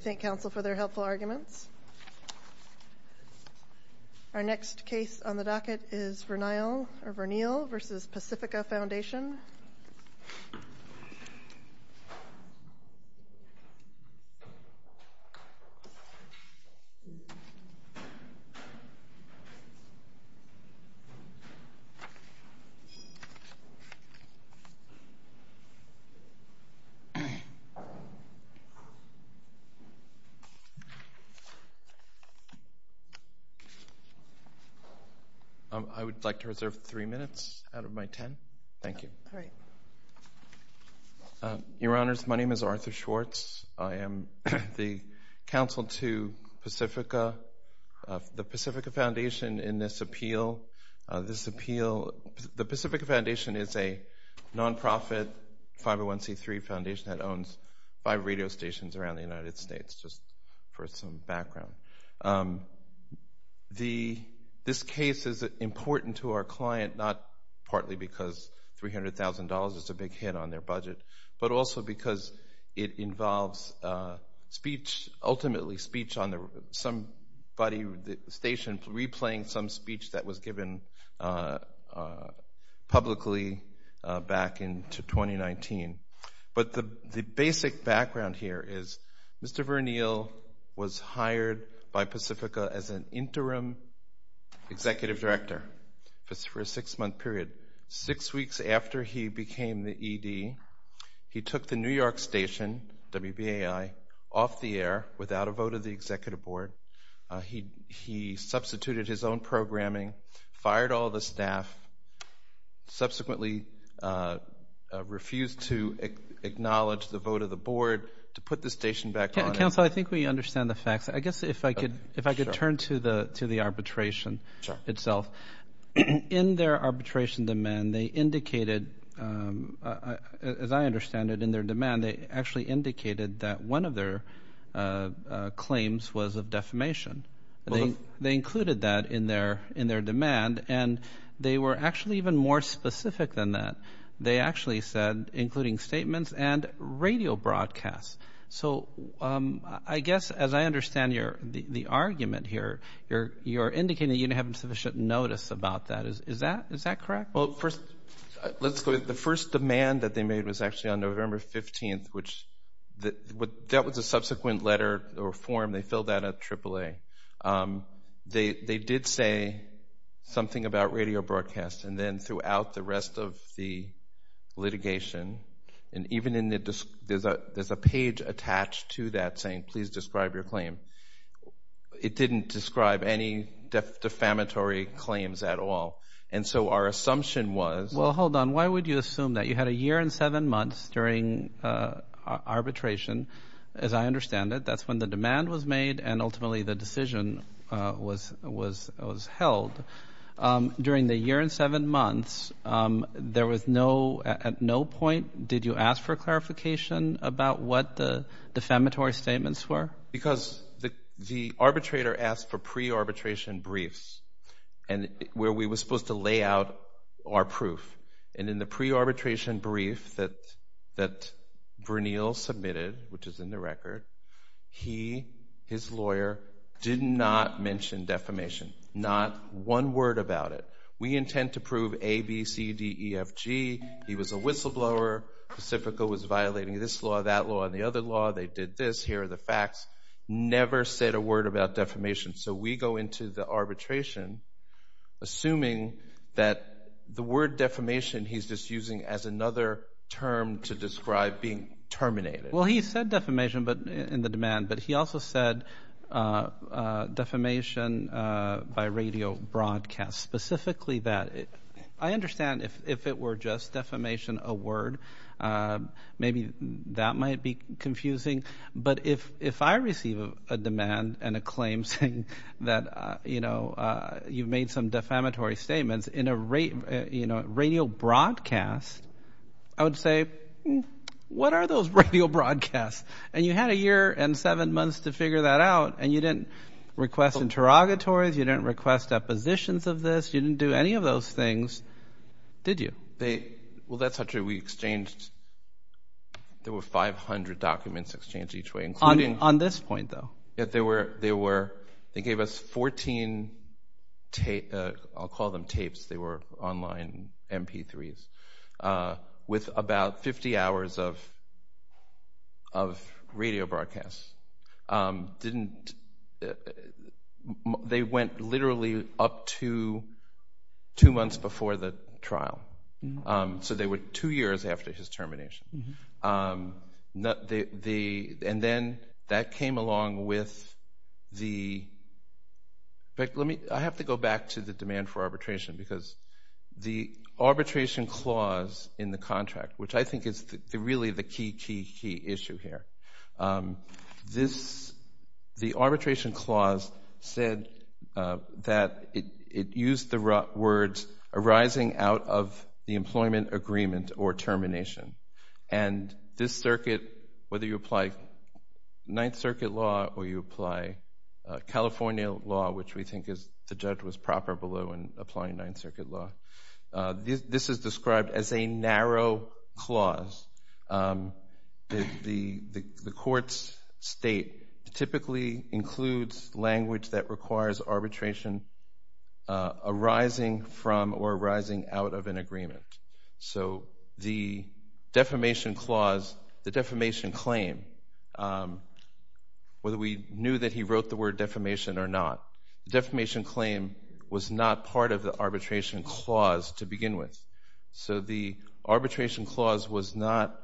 Thank you counsel for their helpful arguments. Our next case on the docket is Vernile v. Pacifica Foundation. I would like to reserve three minutes out of my ten. Thank you. Your Honors, my name is Arthur Schwartz. I am the counsel to the Pacifica Foundation in this appeal. The Pacifica Foundation is a non-profit 501C3 foundation that owns five radio stations around the United States, just for some background. This case is important to our client, not partly because $300,000 is a big hit on their budget, but also because it involves speech, ultimately speech on somebody's station replaying some speech that was given publicly back in 2019. But the basic background here is Mr. Vernile was hired by Pacifica as an interim executive director for a six-month period. Six weeks after he became the ED, he took the New York station, WBAI, off the air without a vote of the executive board. He substituted his own programming, fired all the staff, subsequently refused to acknowledge the vote of the board to put the station back on air. Counsel, I think we understand the facts. I guess if I could turn to the arbitration itself. In their arbitration demand, they indicated, as I understand it, in their demand they actually indicated that one of their claims was of defamation. They included that in their demand, and they were actually even more specific than that. They actually said, including statements and radio broadcasts. So I guess as I understand the argument here, you're indicating that you didn't have sufficient notice about that. Is that correct? Well, first, let's go to the first demand that they made was actually on November 15th, which that was a subsequent letter or form. They filled that out at AAA. They did say something about radio broadcasts, and then throughout the rest of the litigation, and even there's a page attached to that saying, please describe your claim. It didn't describe any defamatory claims at all. And so our assumption was – Well, hold on. Why would you assume that? You had a year and seven months during arbitration, as I understand it. That's when the demand was made, and ultimately the decision was held. During the year and seven months, there was no – at no point did you ask for clarification about what the defamatory statements were? Because the arbitrator asked for pre-arbitration briefs where we were supposed to lay out our proof. And in the pre-arbitration brief that Bernil submitted, which is in the record, he, his lawyer, did not mention defamation. Not one word about it. We intend to prove A, B, C, D, E, F, G. He was a whistleblower. Pacifico was violating this law, that law, and the other law. They did this. Here are the facts. Never said a word about defamation. So we go into the arbitration assuming that the word defamation, he's just using as another term to describe being terminated. Well, he said defamation in the demand, but he also said defamation by radio broadcast, specifically that. I understand if it were just defamation, a word, maybe that might be confusing. But if I receive a demand and a claim saying that, you know, you've made some defamatory statements in a radio broadcast, I would say, what are those radio broadcasts? And you had a year and seven months to figure that out, and you didn't request interrogatories, you didn't request depositions of this, you didn't do any of those things, did you? Well, that's not true. We exchanged, there were 500 documents exchanged each way. On this point, though? They gave us 14, I'll call them tapes, they were online MP3s, with about 50 hours of radio broadcasts. They went literally up to two months before the trial, so they were two years after his termination. And then that came along with the – I have to go back to the demand for arbitration, because the arbitration clause in the contract, which I think is really the key, key, key issue here, the arbitration clause said that it used the words arising out of the employment agreement or termination. And this circuit, whether you apply Ninth Circuit law or you apply California law, which we think the judge was proper below in applying Ninth Circuit law, this is described as a narrow clause. The court's state typically includes language that requires arbitration arising from or arising out of an agreement. So the defamation clause, the defamation claim, whether we knew that he wrote the word defamation or not, the defamation claim was not part of the arbitration clause to begin with. So the arbitration clause was not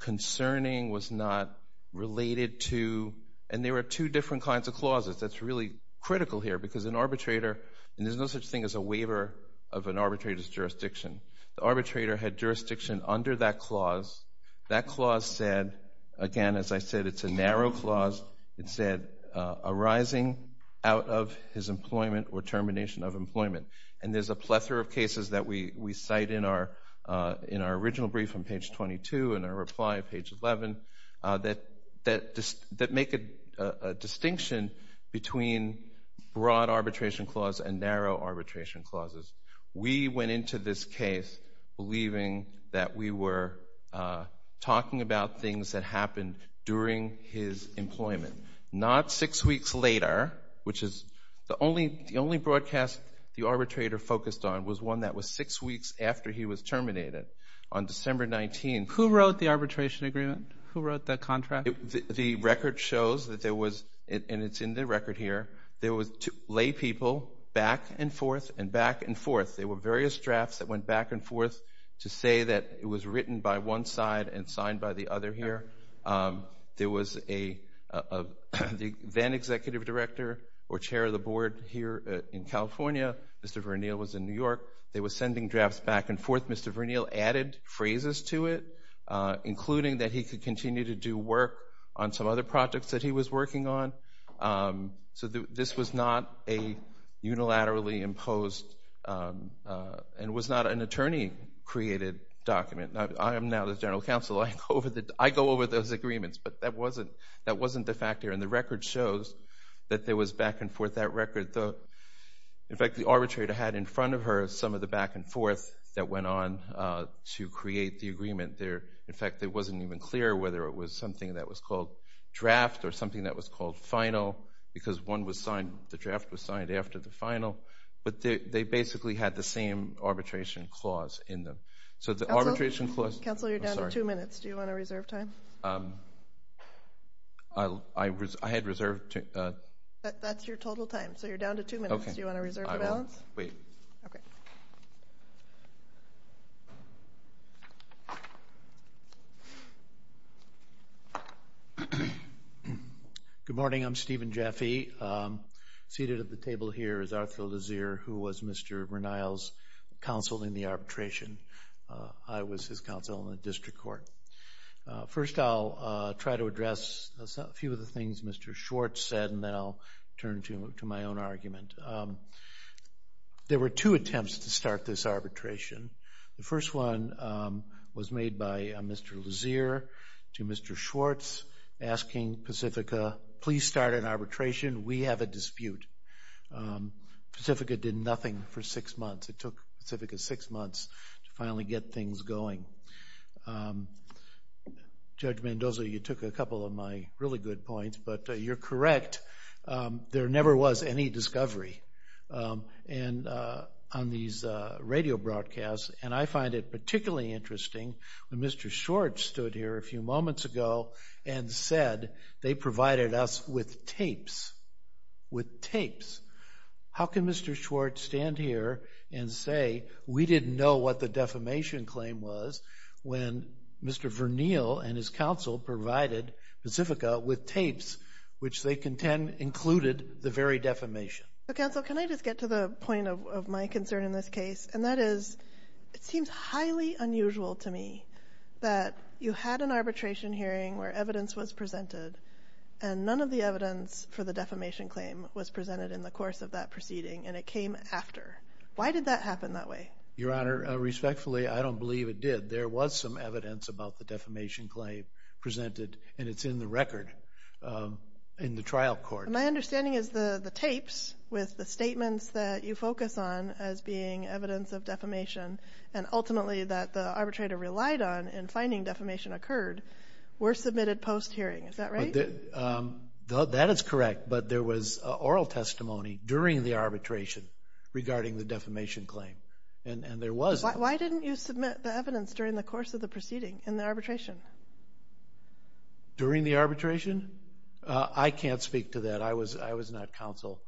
concerning, was not related to – and there were two different kinds of clauses. That's really critical here, because an arbitrator – and there's no such thing as a waiver of an arbitrator's jurisdiction. The arbitrator had jurisdiction under that clause. That clause said – again, as I said, it's a narrow clause. It said arising out of his employment or termination of employment. And there's a plethora of cases that we cite in our original brief on page 22 and our reply on page 11 that make a distinction between broad arbitration clause and narrow arbitration clauses. We went into this case believing that we were talking about things that happened during his employment, not six weeks later, which is the only broadcast the arbitrator focused on was one that was six weeks after he was terminated on December 19. Who wrote the arbitration agreement? Who wrote the contract? The record shows that there was – and it's in the record here – there were laypeople back and forth and back and forth. There were various drafts that went back and forth to say that it was written by one side and signed by the other here. There was a then-executive director or chair of the board here in California. Mr. Verniel was in New York. They were sending drafts back and forth. Mr. Verniel added phrases to it, including that he could continue to do work on some other projects that he was working on. So this was not a unilaterally imposed and was not an attorney-created document. I am now the general counsel. I go over those agreements, but that wasn't the fact here. And the record shows that there was back and forth. That record – in fact, the arbitrator had in front of her some of the back and forth that went on to create the agreement there. In fact, it wasn't even clear whether it was something that was called draft or something that was called final because one was signed – the draft was signed after the final. But they basically had the same arbitration clause in them. So the arbitration clause – Counsel, you're down to two minutes. Do you want to reserve time? I had reserved – That's your total time, so you're down to two minutes. Do you want to reserve the balance? I will. Wait. Okay. Good morning. I'm Stephen Jaffe. Seated at the table here is Arthur Lazier, who was Mr. Bernal's counsel in the arbitration. I was his counsel in the district court. First, I'll try to address a few of the things Mr. Schwartz said, and then I'll turn to my own argument. There were two attempts to start this arbitration. The first one was made by Mr. Lazier to Mr. Schwartz, asking Pacifica, please start an arbitration. We have a dispute. Pacifica did nothing for six months. It took Pacifica six months to finally get things going. Judge Mendoza, you took a couple of my really good points, but you're correct. There never was any discovery on these radio broadcasts, and I find it particularly interesting when Mr. Schwartz stood here a few moments ago and said they provided us with tapes. With tapes. How can Mr. Schwartz stand here and say we didn't know what the defamation claim was when Mr. Bernal and his counsel provided Pacifica with tapes, which they contend included the very defamation? Counsel, can I just get to the point of my concern in this case, and that is it seems highly unusual to me that you had an arbitration hearing where evidence was presented and none of the evidence for the defamation claim was presented in the course of that proceeding, and it came after. Why did that happen that way? Your Honor, respectfully, I don't believe it did. There was some evidence about the defamation claim presented, and it's in the record in the trial court. My understanding is the tapes with the statements that you focus on as being evidence of defamation and ultimately that the arbitrator relied on in finding defamation occurred were submitted post-hearing. Is that right? That is correct, but there was oral testimony during the arbitration regarding the defamation claim, and there was. Why didn't you submit the evidence during the course of the proceeding in the arbitration? During the arbitration? I can't speak to that. I was not counsel.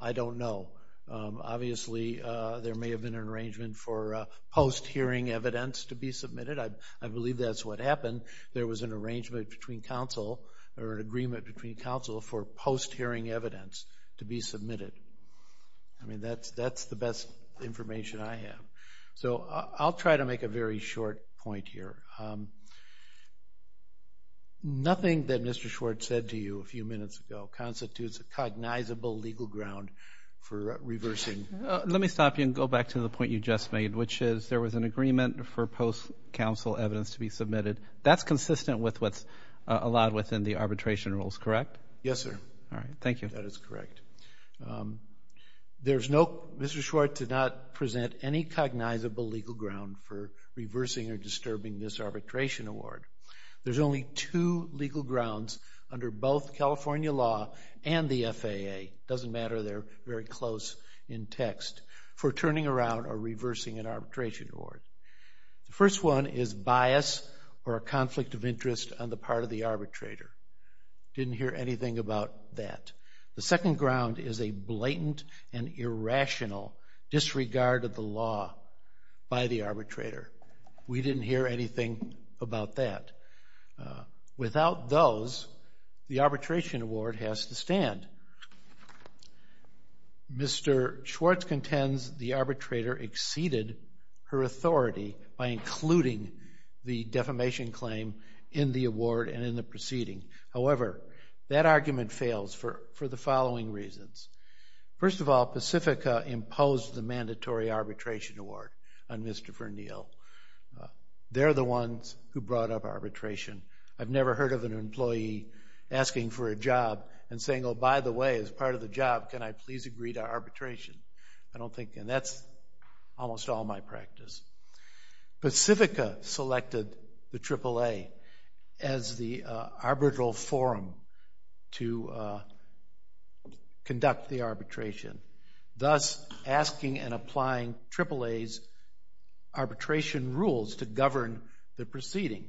I don't know. Obviously, there may have been an arrangement for post-hearing evidence to be submitted. I believe that's what happened. There was an arrangement between counsel or an agreement between counsel for post-hearing evidence to be submitted. I mean, that's the best information I have. So I'll try to make a very short point here. Nothing that Mr. Schwartz said to you a few minutes ago constitutes a cognizable legal ground for reversing. Let me stop you and go back to the point you just made, which is there was an agreement for post-counsel evidence to be submitted. That's consistent with what's allowed within the arbitration rules, correct? Yes, sir. All right, thank you. That is correct. Mr. Schwartz did not present any cognizable legal ground for reversing or disturbing this arbitration award. There's only two legal grounds under both California law and the FAA, doesn't matter, they're very close in text, for turning around or reversing an arbitration award. The first one is bias or a conflict of interest on the part of the arbitrator. Didn't hear anything about that. The second ground is a blatant and irrational disregard of the law by the arbitrator. We didn't hear anything about that. Without those, the arbitration award has to stand. Mr. Schwartz contends the arbitrator exceeded her authority by including the defamation claim in the award and in the proceeding. However, that argument fails for the following reasons. First of all, Pacifica imposed the mandatory arbitration award on Mr. Verneal. They're the ones who brought up arbitration. I've never heard of an employee asking for a job and saying, oh, by the way, as part of the job, can I please agree to arbitration? I don't think, and that's almost all my practice. Pacifica selected the AAA as the arbitral forum to conduct the arbitration, thus asking and applying AAA's arbitration rules to govern the proceeding.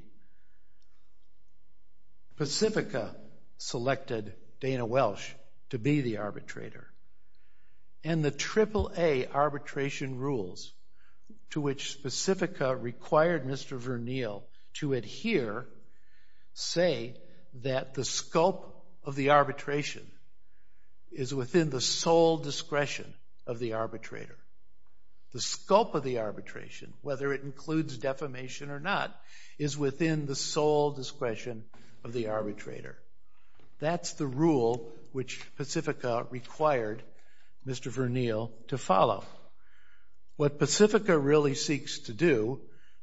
Pacifica selected Dana Welsh to be the arbitrator, and the AAA arbitration rules to which Pacifica required Mr. Verneal to adhere say that the scope of the arbitration is within the sole discretion of the arbitrator. The scope of the arbitration, whether it includes defamation or not, is within the sole discretion of the arbitrator. That's the rule which Pacifica required Mr. Verneal to follow. What Pacifica really seeks to do,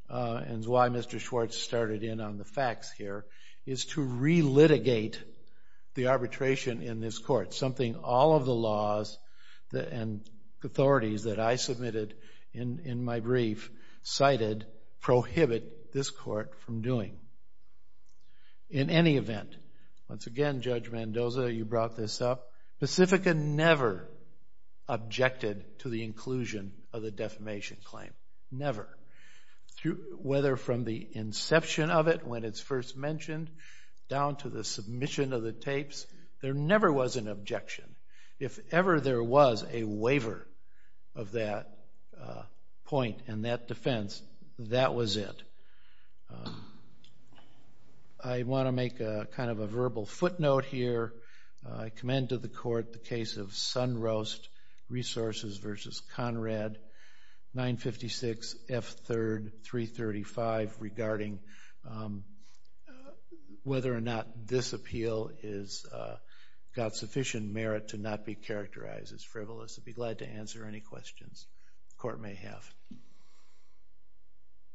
and why Mr. Schwartz started in on the facts here, is to relitigate the arbitration in this court, something all of the laws and authorities that I submitted in my brief cited prohibit this court from doing. In any event, once again, Judge Mendoza, you brought this up, Pacifica never objected to the inclusion of the defamation claim, never. Whether from the inception of it, when it's first mentioned, down to the submission of the tapes, there never was an objection. If ever there was a waiver of that point and that defense, that was it. I want to make kind of a verbal footnote here. I commend to the court the case of Sun Roast Resources v. Conrad, 956 F. 3rd, 335, regarding whether or not this appeal has got sufficient merit to not be characterized as frivolous. I'd be glad to answer any questions the court may have.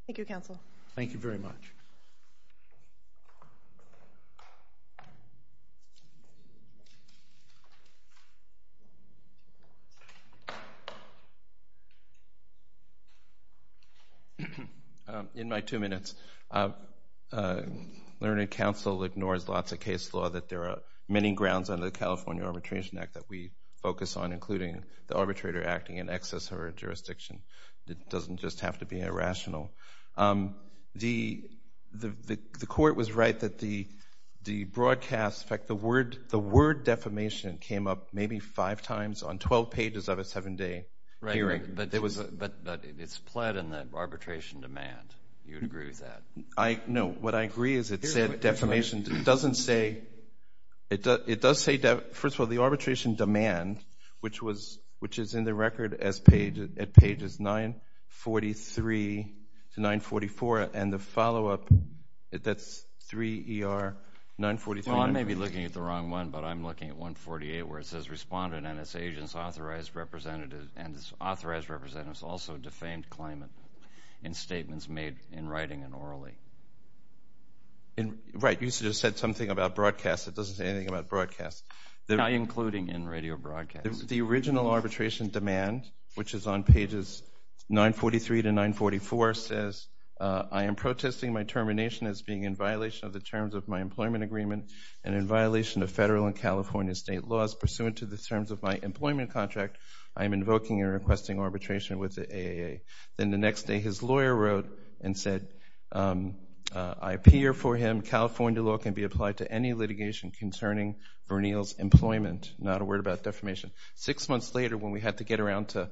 Thank you, Counsel. Thank you very much. In my two minutes, Learned Counsel ignores lots of case law that there are many grounds under the California Arbitration Act that we focus on, it doesn't just have to be irrational. The court was right that the broadcast, in fact, the word defamation came up maybe five times on 12 pages of a seven-day hearing. But it's pled in the arbitration demand. You would agree with that? No, what I agree is it said defamation doesn't say, it does say, first of all, the arbitration demand, which is in the record at pages 943 to 944, and the follow-up, that's 3 ER 943. I may be looking at the wrong one, but I'm looking at 148, where it says, Respondent and its agents authorized representatives, and its authorized representatives also defamed claimant in statements made in writing and orally. Right, you just said something about broadcast that doesn't say anything about broadcast. Not including in radio broadcast. The original arbitration demand, which is on pages 943 to 944, says, I am protesting my termination as being in violation of the terms of my employment agreement and in violation of federal and California state laws pursuant to the terms of my employment contract. I am invoking and requesting arbitration with the AAA. Then the next day his lawyer wrote and said, I appear for him. California law can be applied to any litigation concerning Bernil's employment. Not a word about defamation. Six months later, when we had to get around to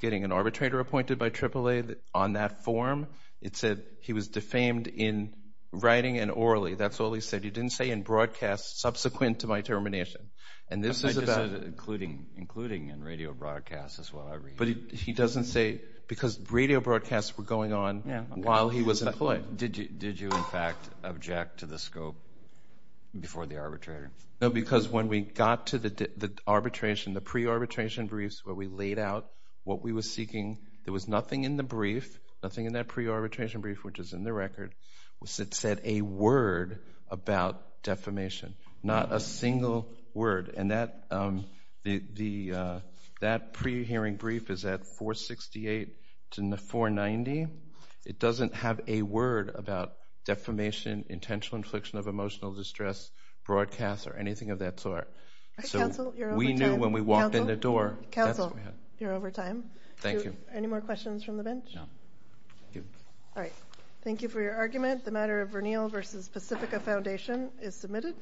getting an arbitrator appointed by AAA on that form, it said he was defamed in writing and orally. That's all he said. He didn't say in broadcast subsequent to my termination. I just said including in radio broadcast is what I read. But he doesn't say, because radio broadcasts were going on while he was employed. But did you, in fact, object to the scope before the arbitrator? No, because when we got to the arbitration, the pre-arbitration briefs where we laid out what we were seeking, there was nothing in the brief, nothing in that pre-arbitration brief, which is in the record, that said a word about defamation. Not a single word. And that pre-hearing brief is at 468 to 490. It doesn't have a word about defamation, intentional infliction of emotional distress, broadcast, or anything of that sort. So we knew when we walked in the door. Counsel, you're over time. Thank you. Any more questions from the bench? No. All right. Thank you for your argument. The matter of Bernil v. Pacifica Foundation is submitted.